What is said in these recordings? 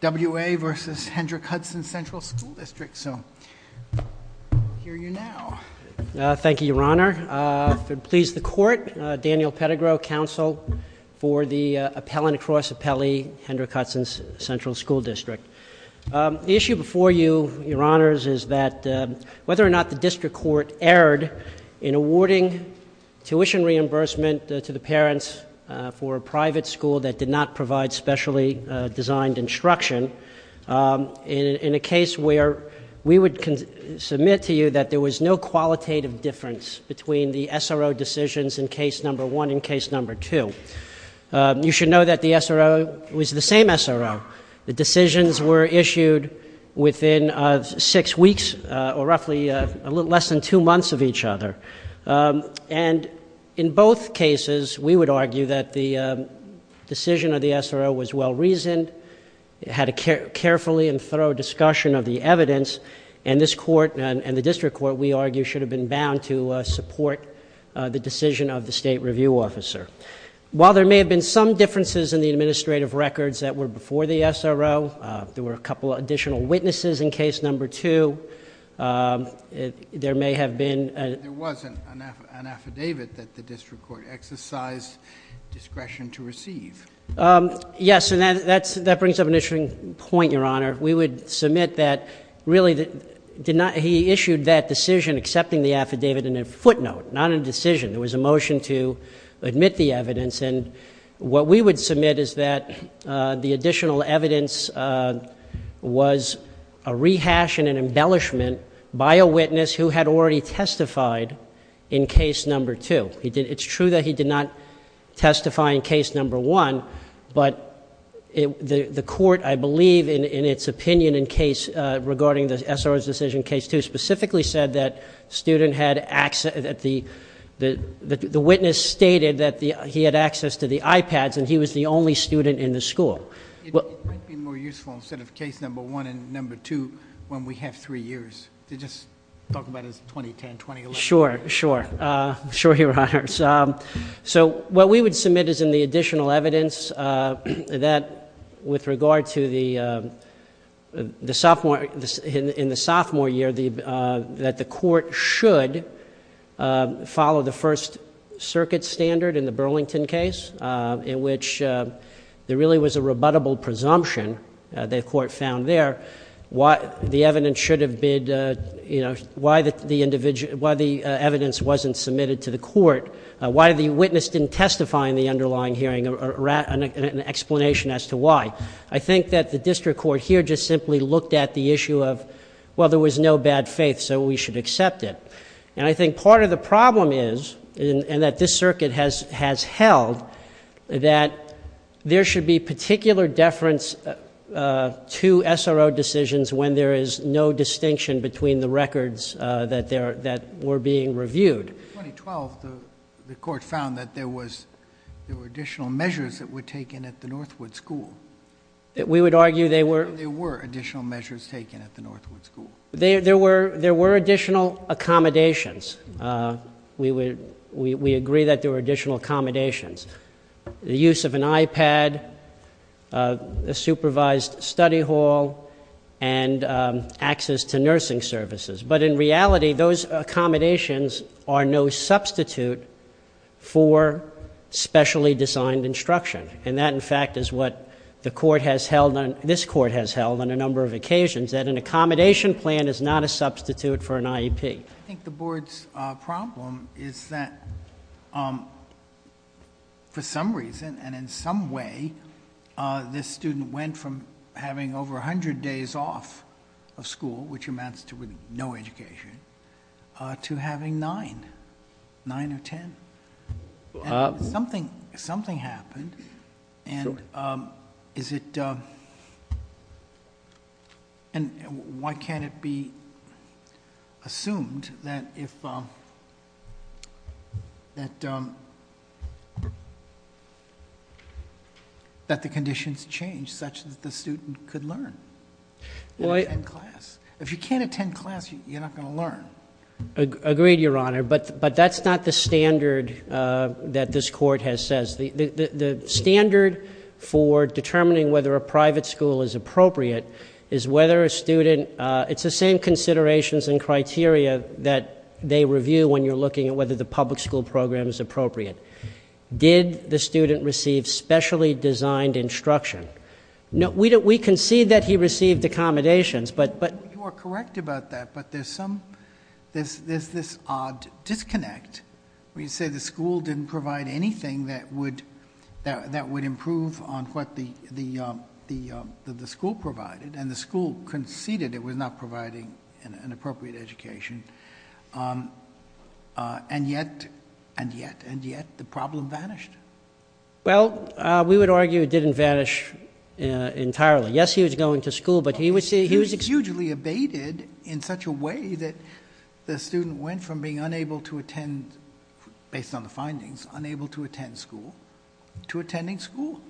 W. A. v. Hendrick Hudson Central School District. If it please the Court, Daniel Pettigrew, Counsel for the Appellant Across Appellee, Hendrick Hudson Central School District. The issue before you, Your Honors, is that whether or not the District Court erred in awarding tuition reimbursement to the parents for a private school that did not provide a specially designed instruction in a case where we would submit to you that there was no qualitative difference between the SRO decisions in case number one and case number two. You should know that the SRO was the same SRO. The decisions were issued within six weeks or roughly less than two months of each other. And in both cases, we would argue that the decision of the SRO was well-reasoned. It had a carefully and thorough discussion of the evidence, and this Court and the District Court, we argue, should have been bound to support the decision of the State Review Officer. While there may have been some differences in the administrative records that were before the SRO, there were a couple of additional witnesses in case number two. There may have been... There was an affidavit that the District Court exercised discretion to receive. Yes, and that brings up an interesting point, Your Honor. We would submit that, really, he issued that decision accepting the affidavit in a footnote, not a decision. There was a motion to admit the evidence, and what we would submit is that the additional evidence was a rehash and an embellishment by a witness who had already testified in case number two. It's true that he did not testify in case number one, but the Court, I believe, in its opinion in case regarding the SRO's decision in case two, specifically said that the witness stated that he had access to the iPads and he was the only student in the school. It might be more useful, instead of case number one and number two, when we have three years, to just talk about as 2010, 2011. Sure, sure. Sure, Your Honor. What we would submit is in the additional evidence that, with regard to the sophomore year, that the Court should follow the First Circuit standard in the Burlington case, in which there really was a rebuttable presumption, the Court found there, the evidence should have been, why the evidence wasn't submitted to the Court, why the witness didn't testify in the underlying hearing, an explanation as to why. I think that the district court here just simply looked at the issue of, well, there was no bad faith, so we should accept it. And I think part of the problem is, and that this circuit has held, that there should be particular deference to SRO decisions when there is no distinction between the records that were being reviewed. In 2012, the Court found that there were additional measures that were taken at the Northwood School. We would argue they were. And there were additional measures taken at the Northwood School. There were additional accommodations. We agree that there were additional accommodations. The use of an iPad, a supervised study hall, and access to nursing services. But in reality, those accommodations are no substitute for specially designed instruction. And that, in fact, is what this Court has held on a number of occasions, that an accommodation plan is not a substitute for an IEP. I think the Board's problem is that, for some reason and in some way, this student went from having over 100 days off of school, which amounts to no education, to having nine, nine or ten. Something happened. And why can't it be assumed that the conditions change such that the student could learn and attend class? If you can't attend class, you're not going to learn. I agree, Your Honor. But that's not the standard that this Court has set. The standard for determining whether a private school is appropriate is whether a student... It's the same considerations and criteria that they review when you're looking at whether the public school program is appropriate. Did the student receive specially designed instruction? We can see that he received accommodations, but... When you say the school didn't provide anything that would improve on what the school provided, and the school conceded it was not providing an appropriate education, and yet, and yet, and yet, the problem vanished. Well, we would argue it didn't vanish entirely. Yes, he was going to school, but he was... based on the findings, unable to attend school, to attending school.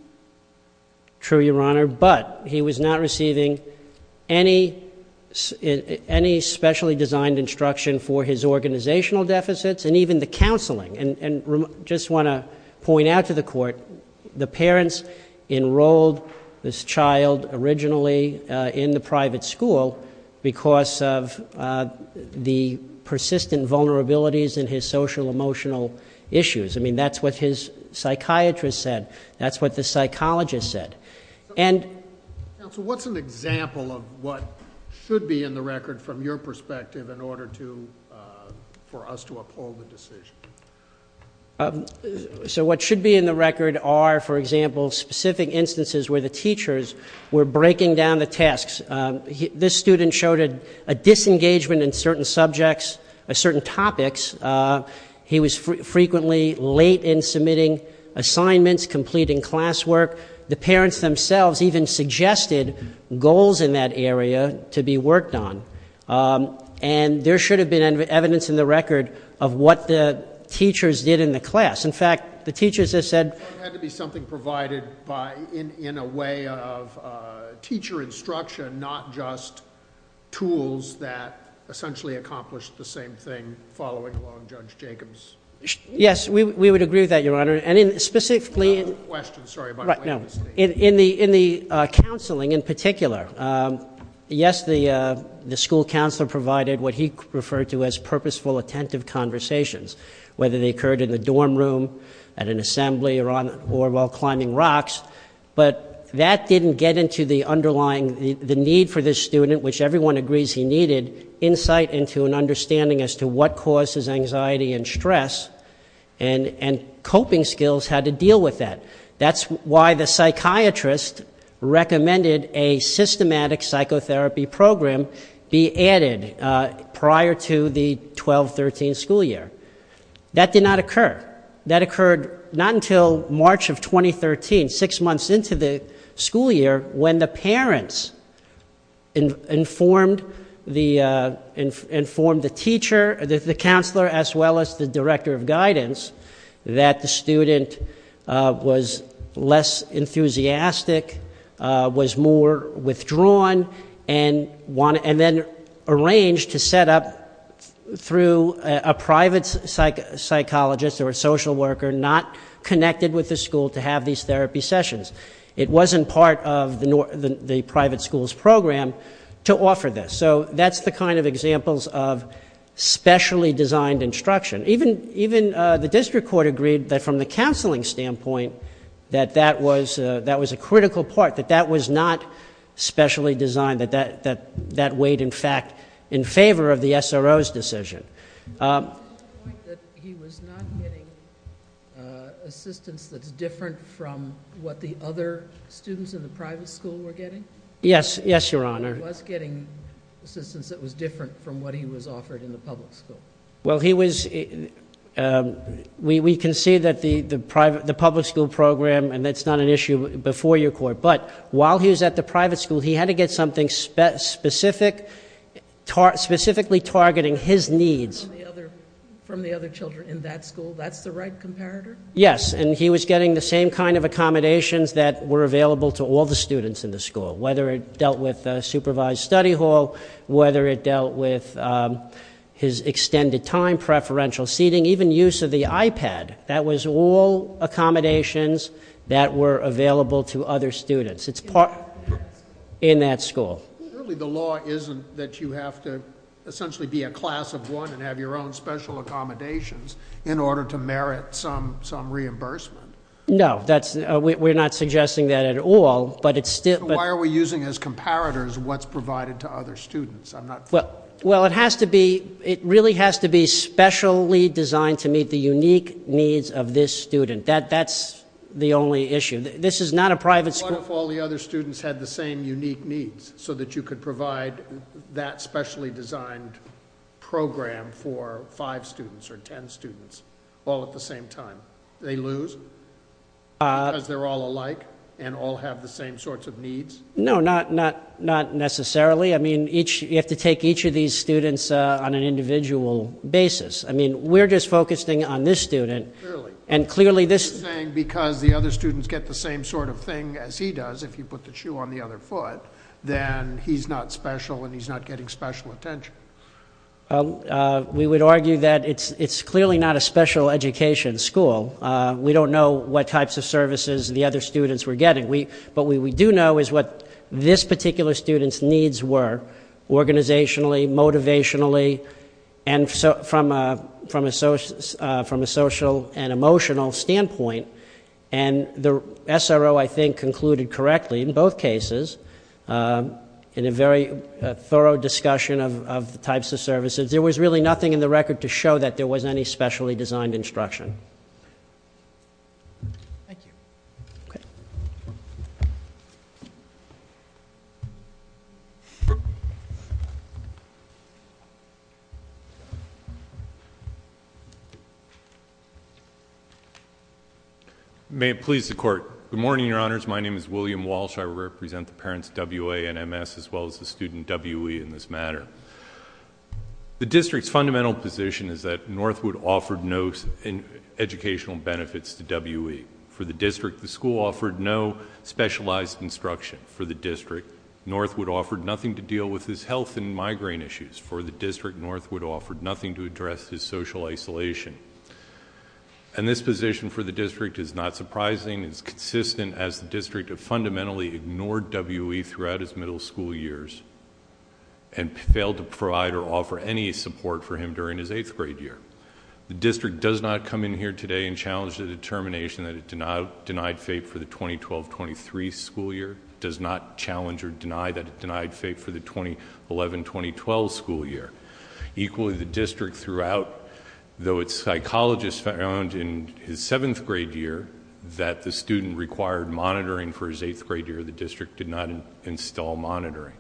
True, Your Honor. But, he was not receiving any specially designed instruction for his organizational deficits and even the counseling. And just want to point out to the Court, the parents enrolled this child originally in the private school because of the persistent vulnerabilities in his social-emotional issues. I mean, that's what his psychiatrist said. That's what the psychologist said. And... Counsel, what's an example of what should be in the record from your perspective in order to... for us to uphold the decision? So, what should be in the record are, for example, specific instances where the teachers were breaking down the tasks. This student showed a disengagement in certain subjects, certain topics. He was frequently late in submitting assignments, completing classwork. The parents themselves even suggested goals in that area to be worked on. And, there should have been evidence in the record of what the teachers did in the class. In fact, the teachers have said...... tools that essentially accomplished the same thing following along Judge Jacobs. Yes, we would agree with that, Your Honor. And, specifically... Another question. Sorry about... Right, no. In the counseling in particular, yes, the school counselor provided what he referred to as purposeful, attentive conversations. Whether they occurred in the dorm room, at an assembly, or while climbing rocks. But, that didn't get into the underlying... the need for this student, which everyone agrees he needed... insight into an understanding as to what causes anxiety and stress. And, coping skills had to deal with that. That's why the psychiatrist recommended a systematic psychotherapy program be added prior to the 12-13 school year. That did not occur. That occurred, not until March of 2013, six months into the school year... when the parents informed the teacher, the counselor, as well as the Director of Guidance... that the student was less enthusiastic, was more withdrawn. And, then arranged to set up through a private psychologist. Or, a social worker, not connected with the school to have these therapy sessions. It wasn't part of the private school's program, to offer this. So, that's the kind of examples of specially designed instruction. Even the District Court agreed that from the counseling standpoint, that that was a critical part. That that was not specially designed. That that weighed, in fact, in favor of the SRO's decision. Did he make the point that he was not getting assistance that's different from what the other students in the private school were getting? Yes. Yes, Your Honor. He was getting assistance that was different from what he was offered in the public school. Well, he was... we can see that the public school program, and that's not an issue before your court. But, while he was at the private school, he had to get something specific, specifically targeting his needs. From the other children in that school. That's the right comparator? Yes. And, he was getting the same kind of accommodations that were available to all the students in the school. Whether it dealt with supervised study hall, whether it dealt with his extended time, preferential seating, even use of the iPad. That was all accommodations that were available to other students. In that school? In that school. Clearly, the law isn't that you have to essentially be a class of one and have your own special accommodations in order to merit some reimbursement. No. We're not suggesting that at all. Why are we using as comparators what's provided to other students? Well, it has to be... it really has to be specially designed to meet the unique needs of this student. That's the only issue. This is not a private school... What if all the other students had the same unique needs so that you could provide that specially designed program for five students or ten students all at the same time? They lose because they're all alike and all have the same sorts of needs? No, not necessarily. I mean, you have to take each of these students on an individual basis. I mean, we're just focusing on this student... Clearly. And clearly this... You're saying because the other students get the same sort of thing as he does, if you put the shoe on the other foot, then he's not special and he's not getting special attention. We would argue that it's clearly not a special education school. We don't know what types of services the other students were getting. What we do know is what this particular student's needs were, organizationally, motivationally, and from a social and emotional standpoint. And the SRO, I think, concluded correctly in both cases, in a very thorough discussion of the types of services. There was really nothing in the record to show that there was any specially designed instruction. Thank you. Okay. May it please the Court. Good morning, Your Honors. My name is William Walsh. I represent the parents, WA and MS, as well as the student, WE, in this matter. The district's fundamental position is that Northwood offered no educational benefits to WE. For the district, the school offered no specialized instruction. For the district, Northwood offered nothing to deal with his health and migraine issues. For the district, Northwood offered nothing to address his social isolation. And this position for the district is not surprising. It's consistent as the district have fundamentally ignored WE throughout his middle school years and failed to provide or offer any support for him during his eighth grade year. The district does not come in here today and challenge the determination that it denied FAPE for the 2012-2013 school year, does not challenge or deny that it denied FAPE for the 2011-2012 school year. Equally, the district throughout, though its psychologist found in his seventh grade year that the student required monitoring for his eighth grade year, the district did not install monitoring.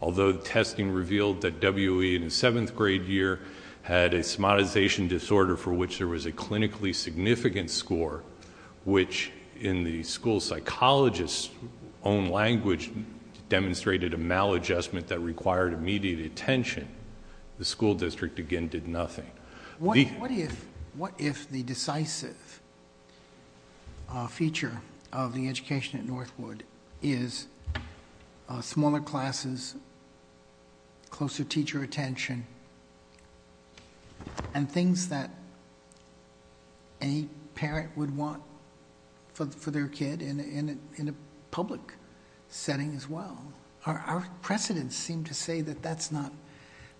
Although testing revealed that WE in his seventh grade year had a somatization disorder for which there was a clinically significant score, which in the school psychologist's own language demonstrated a maladjustment that required immediate attention, the school district, again, did nothing. What if the decisive feature of the education at Northwood is smaller classes, closer teacher attention, and things that any parent would want for their kid in a public setting as well? Our precedents seem to say that that's not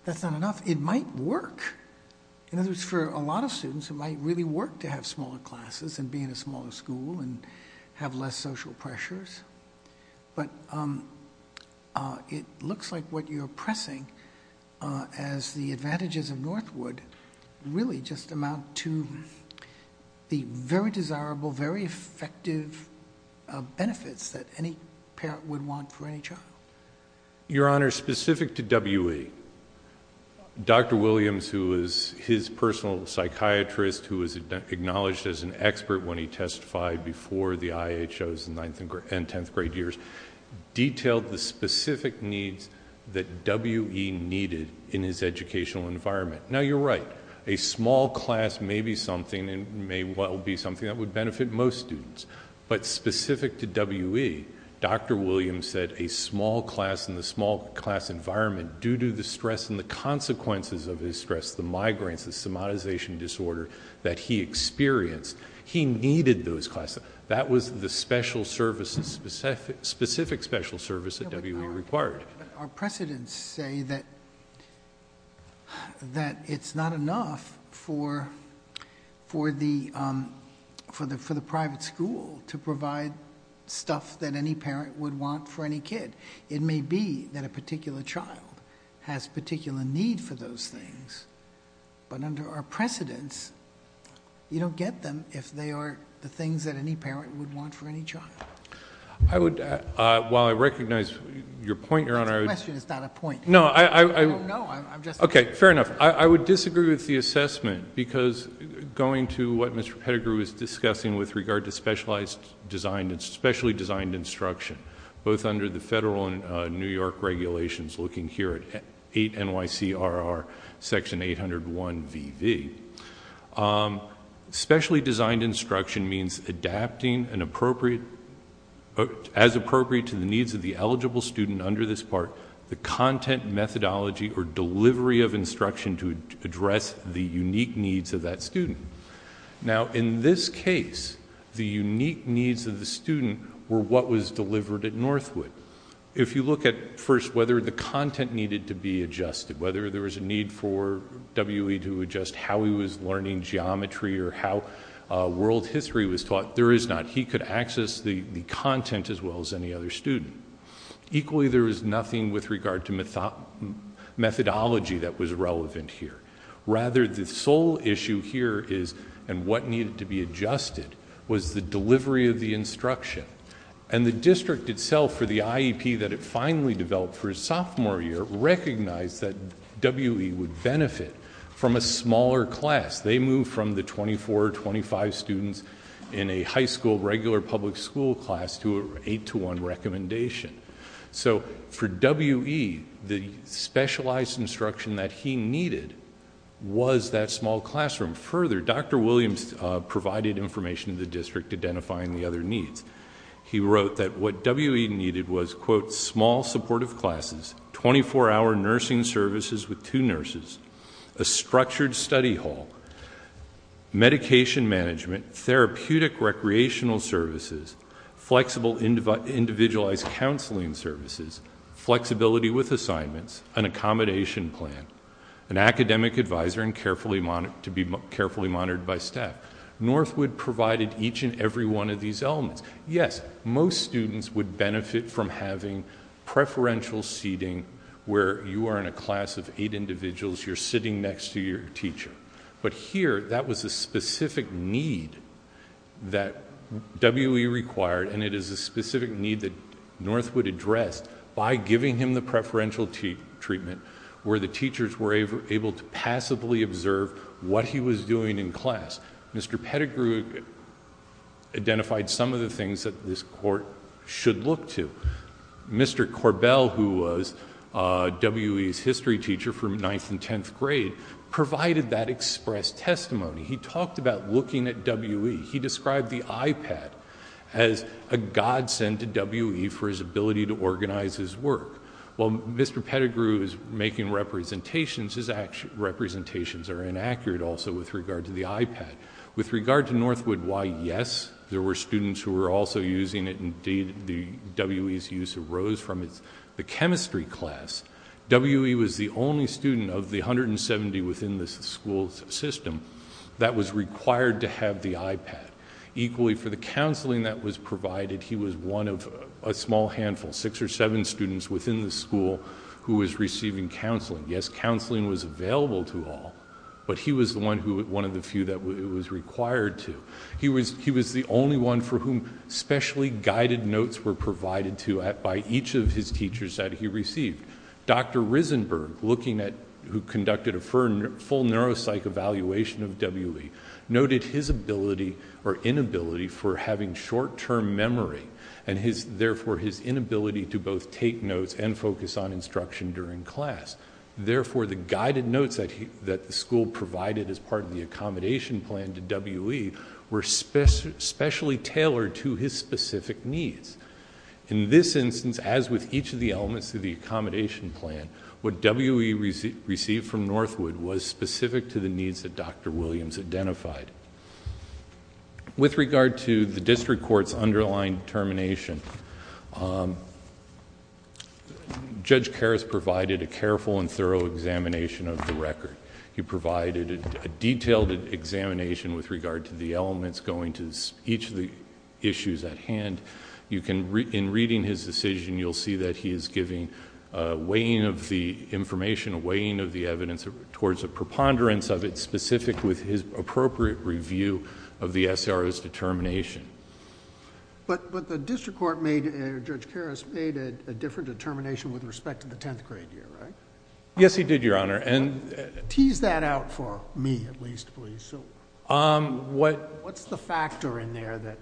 enough. It might work. In other words, for a lot of students, it might really work to have smaller classes and be in a smaller school and have less social pressures. But it looks like what you're pressing, as the advantages of Northwood, really just amount to the very desirable, very effective benefits that any parent would want for any child. Your Honor, specific to WE, Dr. Williams, who was his personal psychiatrist, who was acknowledged as an expert when he testified before the IHOs in ninth and tenth grade years, detailed the specific needs that WE needed in his educational environment. Now, you're right. A small class may be something and may well be something that would benefit most students. But specific to WE, Dr. Williams said a small class in the small class environment, due to the stress and the consequences of his stress, the migraines, the somatization disorder that he experienced, he needed those classes. That was the specific special service that WE required. Our precedents say that it's not enough for the private school to provide stuff that any parent would want for any kid. It may be that a particular child has particular need for those things. But under our precedents, you don't get them if they are the things that any parent would want for any child. I would, while I recognize your point, Your Honor- That's a question, it's not a point. No, I- I don't know, I'm just- Okay, fair enough. I would disagree with the assessment, because going to what Mr. Pettigrew is discussing with regard to specialized, specially designed instruction, both under the federal and New York regulations, looking here at 8 NYC RR section 801 VV. Specially designed instruction means adapting an appropriate, as appropriate to the needs of the eligible student under this part, the content methodology or delivery of instruction to address the unique needs of that student. Now, in this case, the unique needs of the student were what was delivered at Northwood. If you look at, first, whether the content needed to be adjusted, whether there was a need for WE to adjust how he was learning geometry or how world history was taught, there is not. He could access the content as well as any other student. Equally, there is nothing with regard to methodology that was relevant here. Rather, the sole issue here is, and what needed to be adjusted, was the delivery of the instruction. And the district itself, for the IEP that it finally developed for his sophomore year, recognized that WE would benefit from a smaller class. They moved from the 24 or 25 students in a high school regular public school class to an 8 to 1 recommendation. So for WE, the specialized instruction that he needed was that small classroom. Further, Dr. Williams provided information to the district identifying the other needs. He wrote that what WE needed was, quote, small supportive classes, 24-hour nursing services with two nurses, a structured study hall, medication management, therapeutic recreational services, flexible individualized counseling services, flexibility with assignments, an accommodation plan, an academic advisor to be carefully monitored by staff. Northwood provided each and every one of these elements. Yes, most students would benefit from having preferential seating where you are in a class of eight individuals, you're sitting next to your teacher. But here, that was a specific need that WE required, and it is a specific need that Northwood addressed by giving him the preferential treatment where the teachers were able to passively observe what he was doing in class. Mr. Pettigrew identified some of the things that this court should look to. Mr. Corbell, who was WE's history teacher from 9th and 10th grade, provided that express testimony. He talked about looking at WE. He described the iPad as a godsend to WE for his ability to organize his work. While Mr. Pettigrew is making representations, his representations are inaccurate also with regard to the iPad. With regard to Northwood, why, yes, there were students who were also using it. Indeed, WE's use arose from the chemistry class. WE was the only student of the 170 within the school system that was required to have the iPad. Equally, for the counseling that was provided, he was one of a small handful, six or seven students within the school who was receiving counseling. Yes, counseling was available to all, but he was one of the few that it was required to. He was the only one for whom specially guided notes were provided to by each of his teachers that he received. Dr. Risenberg, who conducted a full neuropsych evaluation of WE, noted his inability for having short-term memory, and therefore his inability to both take notes and focus on instruction during class. Therefore, the guided notes that the school provided as part of the accommodation plan to WE were specially tailored to his specific needs. In this instance, as with each of the elements of the accommodation plan, what WE received from Northwood was specific to the needs that Dr. Williams identified. With regard to the district court's underlying determination, Judge Karras provided a careful and thorough examination of the record. He provided a detailed examination with regard to the elements going to each of the issues at hand. In reading his decision, you'll see that he is giving a weighing of the information, a weighing of the evidence towards a preponderance of it, specific with his appropriate review of the SRO's determination. But the district court made... Judge Karras made a different determination with respect to the tenth grade year, right? Yes, he did, Your Honor. Tease that out for me, at least, please. What's the factor in there that...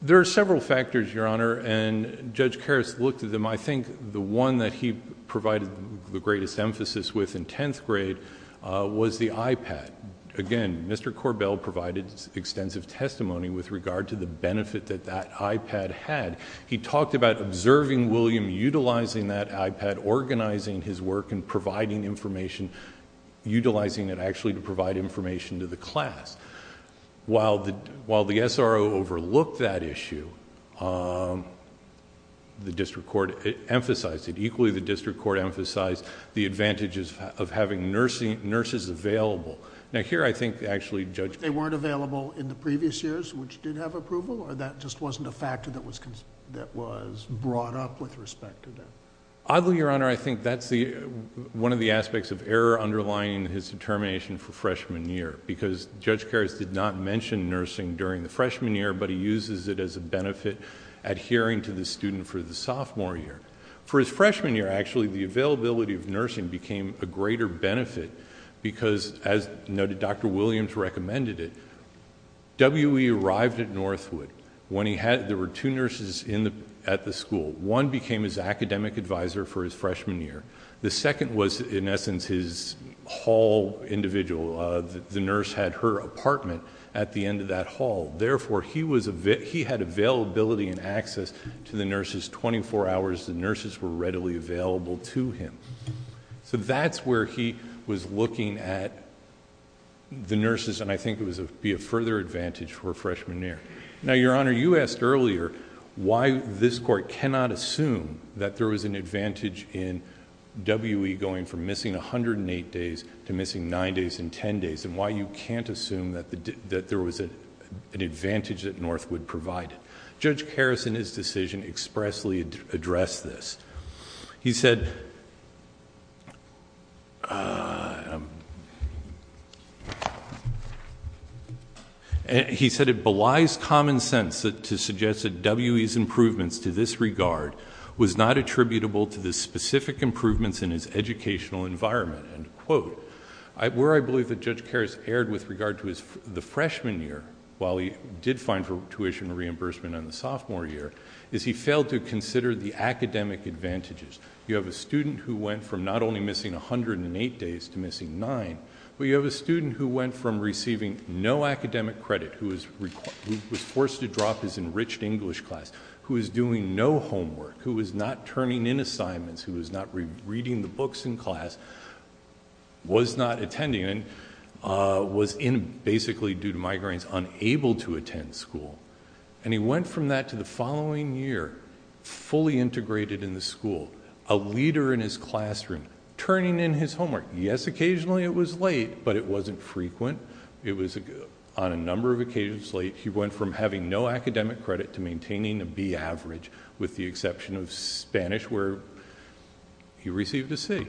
There are several factors, Your Honor, and Judge Karras looked at them. I think the one that he provided the greatest emphasis with in tenth grade was the iPad. Again, Mr. Korbel provided extensive testimony with regard to the benefit that that iPad had. He talked about observing William, utilizing that iPad, organizing his work, and providing information, utilizing it, actually, to provide information to the class. While the SRO overlooked that issue, the district court emphasized it. Equally, the district court emphasized the advantages of having nurses available. Now, here, I think, actually, Judge... They weren't available in the previous years, which did have approval, or that just wasn't a factor that was brought up with respect to that? Oddly, Your Honor, I think that's one of the aspects of error underlying his determination for freshman year, because Judge Karras did not mention nursing during the freshman year, but he uses it as a benefit adhering to the student for the sophomore year. For his freshman year, actually, the availability of nursing became a greater benefit because, as noted, Dr. Williams recommended it. W.E. arrived at Northwood. There were two nurses at the school. One became his academic advisor for his freshman year. The second was, in essence, his hall individual. The nurse had her apartment at the end of that hall. Therefore, he had availability and access to the nurses. Twenty-four hours, the nurses were readily available to him. So that's where he was looking at the nurses, and I think it would be a further advantage for a freshman year. Now, Your Honor, you asked earlier why this court cannot assume that there was an advantage in W.E. going from missing 108 days to missing 9 days and 10 days, and why you can't assume that there was an advantage that Northwood provided. Judge Karras, in his decision, expressly addressed this. He said it belies common sense to suggest that W.E.'s improvements to this regard was not attributable to the specific improvements in his educational environment. Where I believe that Judge Karras erred with regard to the freshman year, while he did find tuition reimbursement in the sophomore year, is he failed to consider the academic advantages. You have a student who went from not only missing 108 days to missing 9, but you have a student who went from receiving no academic credit, who was forced to drop his enriched English class, who was doing no homework, who was not turning in assignments, who was not reading the books in class, was not attending, and was basically, due to migraines, unable to attend school. And he went from that to the following year, fully integrated in the school, a leader in his classroom, turning in his homework. Yes, occasionally it was late, but it wasn't frequent. It was, on a number of occasions, late. He went from having no academic credit to maintaining a B average, with the exception of Spanish, where he received a C.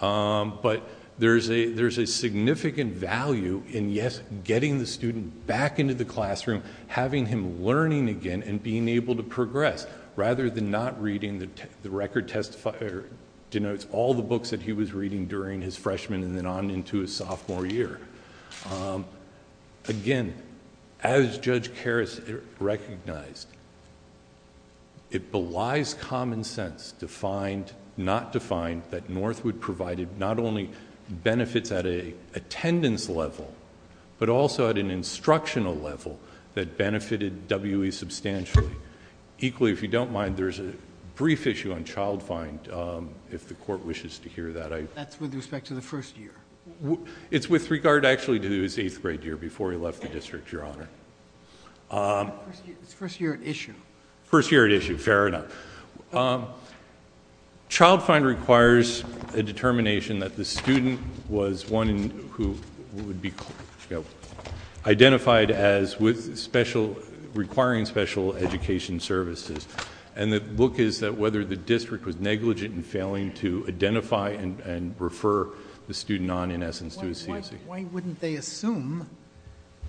But there's a significant value in, yes, getting the student back into the classroom, having him learning again and being able to progress, rather than not reading... the record denotes all the books that he was reading during his freshman and then on into his sophomore year. Again, as Judge Karras recognized, it belies common sense to find... not to find that Northwood provided not only benefits at an attendance level, but also at an instructional level, that benefited W.E. substantially. Equally, if you don't mind, there's a brief issue on Child Find, if the Court wishes to hear that. That's with respect to the first year. It's with regard, actually, to his eighth grade year, before he left the district, Your Honor. It's the first year at issue. First year at issue, fair enough. Child Find requires a determination that the student was one who would be identified as with special... requiring special education services. And the look is that whether the district was negligent in failing to identify and refer the student on, in essence, to a CSE. Why wouldn't they assume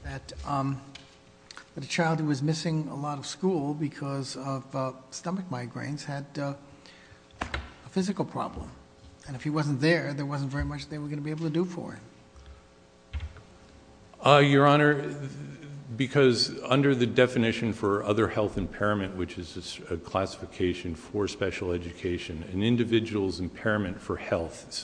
that a child who was missing a lot of school because of stomach migraines had a physical problem? And if he wasn't there, there wasn't very much they were going to be able to do for him. Your Honor, because under the definition for other health impairment, which is a classification for special education, an individual's impairment for health...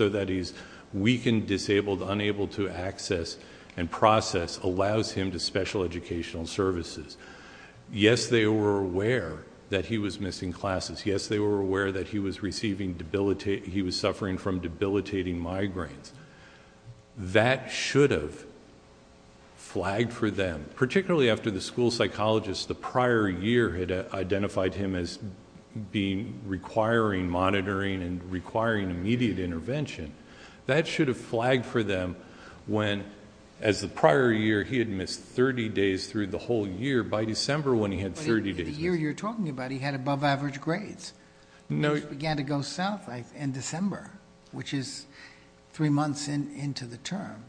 weakened, disabled, unable to access and process allows him to special educational services. Yes, they were aware that he was missing classes. Yes, they were aware that he was receiving debilitating... he was suffering from debilitating migraines. That should have flagged for them. Particularly after the school psychologist, the prior year, had identified him as requiring monitoring and requiring immediate intervention. That should have flagged for them when, as the prior year, he had missed 30 days through the whole year. By December, when he had 30 days... But in the year you're talking about, he had above average grades. No... Which began to go south in December, which is three months into the term.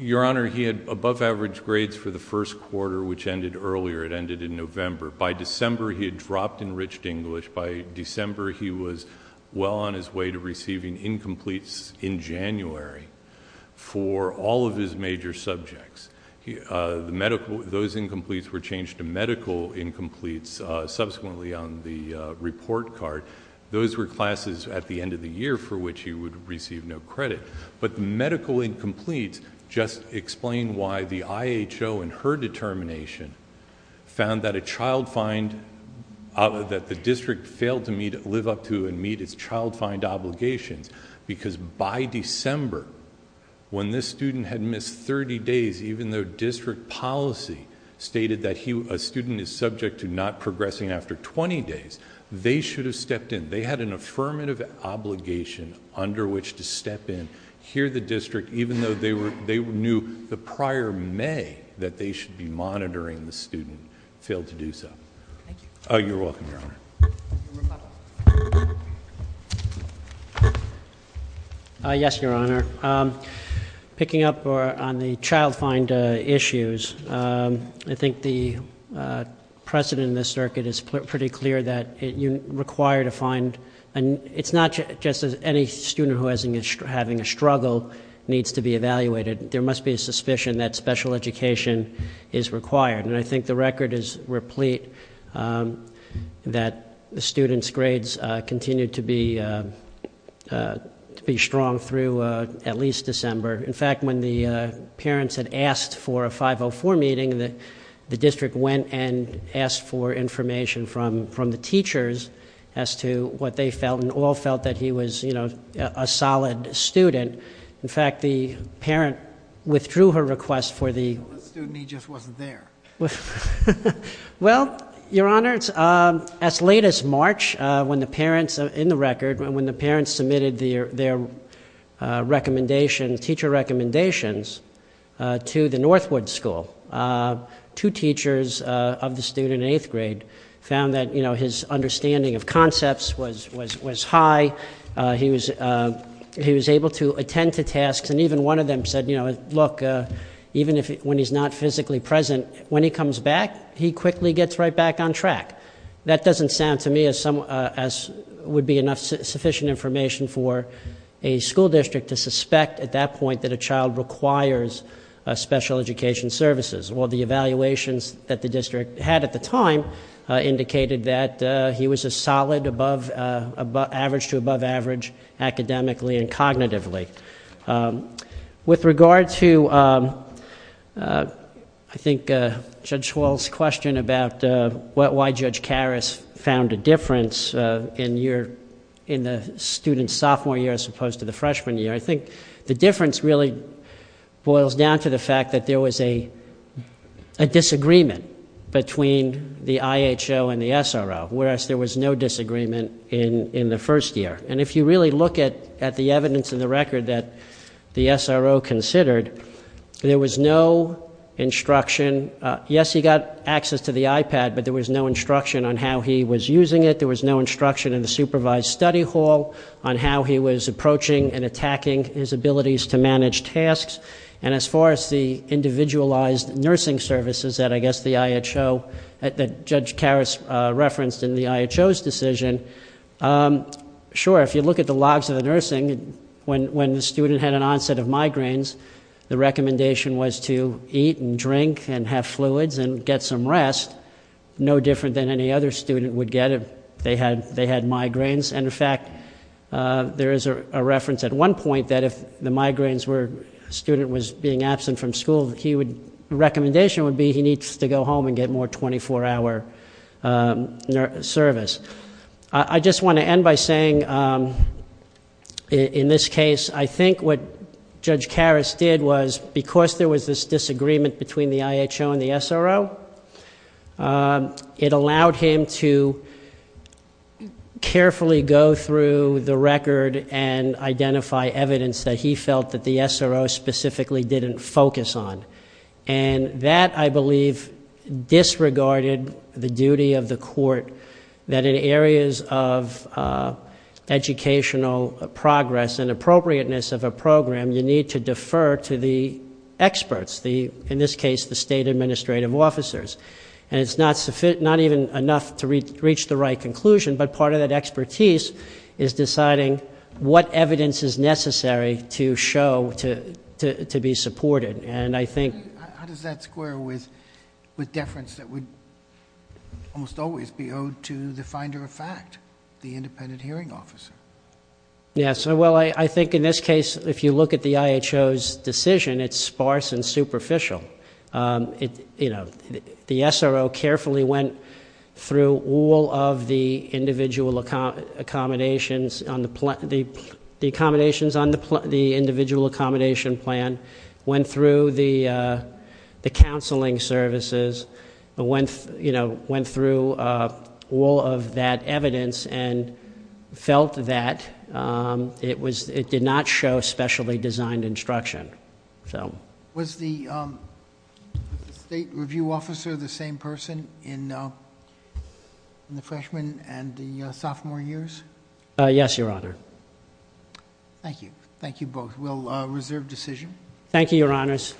Your Honor, he had above average grades for the first quarter, which ended earlier. It ended in November. By December, he had dropped Enriched English. By December, he was well on his way to receiving incompletes in January, for all of his major subjects. Those incompletes were changed to medical incompletes, subsequently on the report card. Those were classes at the end of the year, for which he would receive no credit. The medical incompletes just explain why the IHO, in her determination, found that a child find... that the district failed to live up to and meet its child find obligations. Because by December, when this student had missed 30 days, even though district policy stated that a student is subject to not progressing after 20 days, they should have stepped in. They had an affirmative obligation under which to step in. Here, the district, even though they knew the prior May, that they should be monitoring the student, failed to do so. Thank you. You're welcome, Your Honor. Yes, Your Honor. Picking up on the child find issues, I think the precedent in this circuit is pretty clear that you're required to find... It's not just any student who is having a struggle needs to be evaluated. There must be a suspicion that special education is required. And, I think the record is replete that the student's grades continue to be strong through at least December. In fact, when the parents had asked for a 504 meeting, the district went and asked for information from the teachers... as to what they felt and all felt that he was, you know, a solid student. In fact, the parent withdrew her request for the... The student, he just wasn't there. Well, Your Honor, as late as March, when the parents in the record... when the parents submitted their teacher recommendations to the Northwood School... two teachers of the student in eighth grade found that, you know, his understanding of concepts was high. He was able to attend to tasks. And, even one of them said, you know, look, even if... when he's not physically present... when he comes back, he quickly gets right back on track. That doesn't sound to me as some... as would be enough sufficient information for a school district... to suspect at that point that a child requires special education services. Well, the evaluations that the district had at the time, indicated that he was a solid above... average to above average, academically and cognitively. With regard to, I think, Judge Schwall's question about why Judge Karras found a difference in year... in the student's sophomore year, as opposed to the freshman year. I think the difference really boils down to the fact that there was a... a disagreement between the IHO and the SRO. Whereas, there was no disagreement in the first year. And, if you really look at the evidence in the record that the SRO considered, there was no instruction. Yes, he got access to the iPad, but there was no instruction on how he was using it. There was no instruction in the supervised study hall, on how he was approaching and attacking his abilities to manage tasks. And, as far as the individualized nursing services that I guess the IHO... that Judge Karras referenced in the IHO's decision. Sure, if you look at the logs of the nursing, when the student had an onset of migraines... the recommendation was to eat and drink and have fluids and get some rest. No different than any other student would get if they had migraines. And, in fact, there is a reference at one point that if the migraines were... a student was being absent from school, he would... I just want to end by saying, in this case, I think what Judge Karras did was... because there was this disagreement between the IHO and the SRO... it allowed him to carefully go through the record and identify evidence that he felt that the SRO specifically didn't focus on. And, that I believe disregarded the duty of the court that in areas of educational progress... and appropriateness of a program, you need to defer to the experts. In this case, the state administrative officers. And, it's not even enough to reach the right conclusion. But, part of that expertise is deciding what evidence is necessary to show to be supported. And, I think... How does that square with deference that would almost always be owed to the finder of fact? The independent hearing officer. Yes. Well, I think in this case, if you look at the IHO's decision, it's sparse and superficial. You know, the SRO carefully went through all of the individual accommodations on the... Went through the counseling services. Went through all of that evidence and felt that it did not show specially designed instruction. Was the state review officer the same person in the freshman and the sophomore years? Yes, Your Honor. Thank you. Thank you both. We'll reserve decision. Thank you, Your Honors.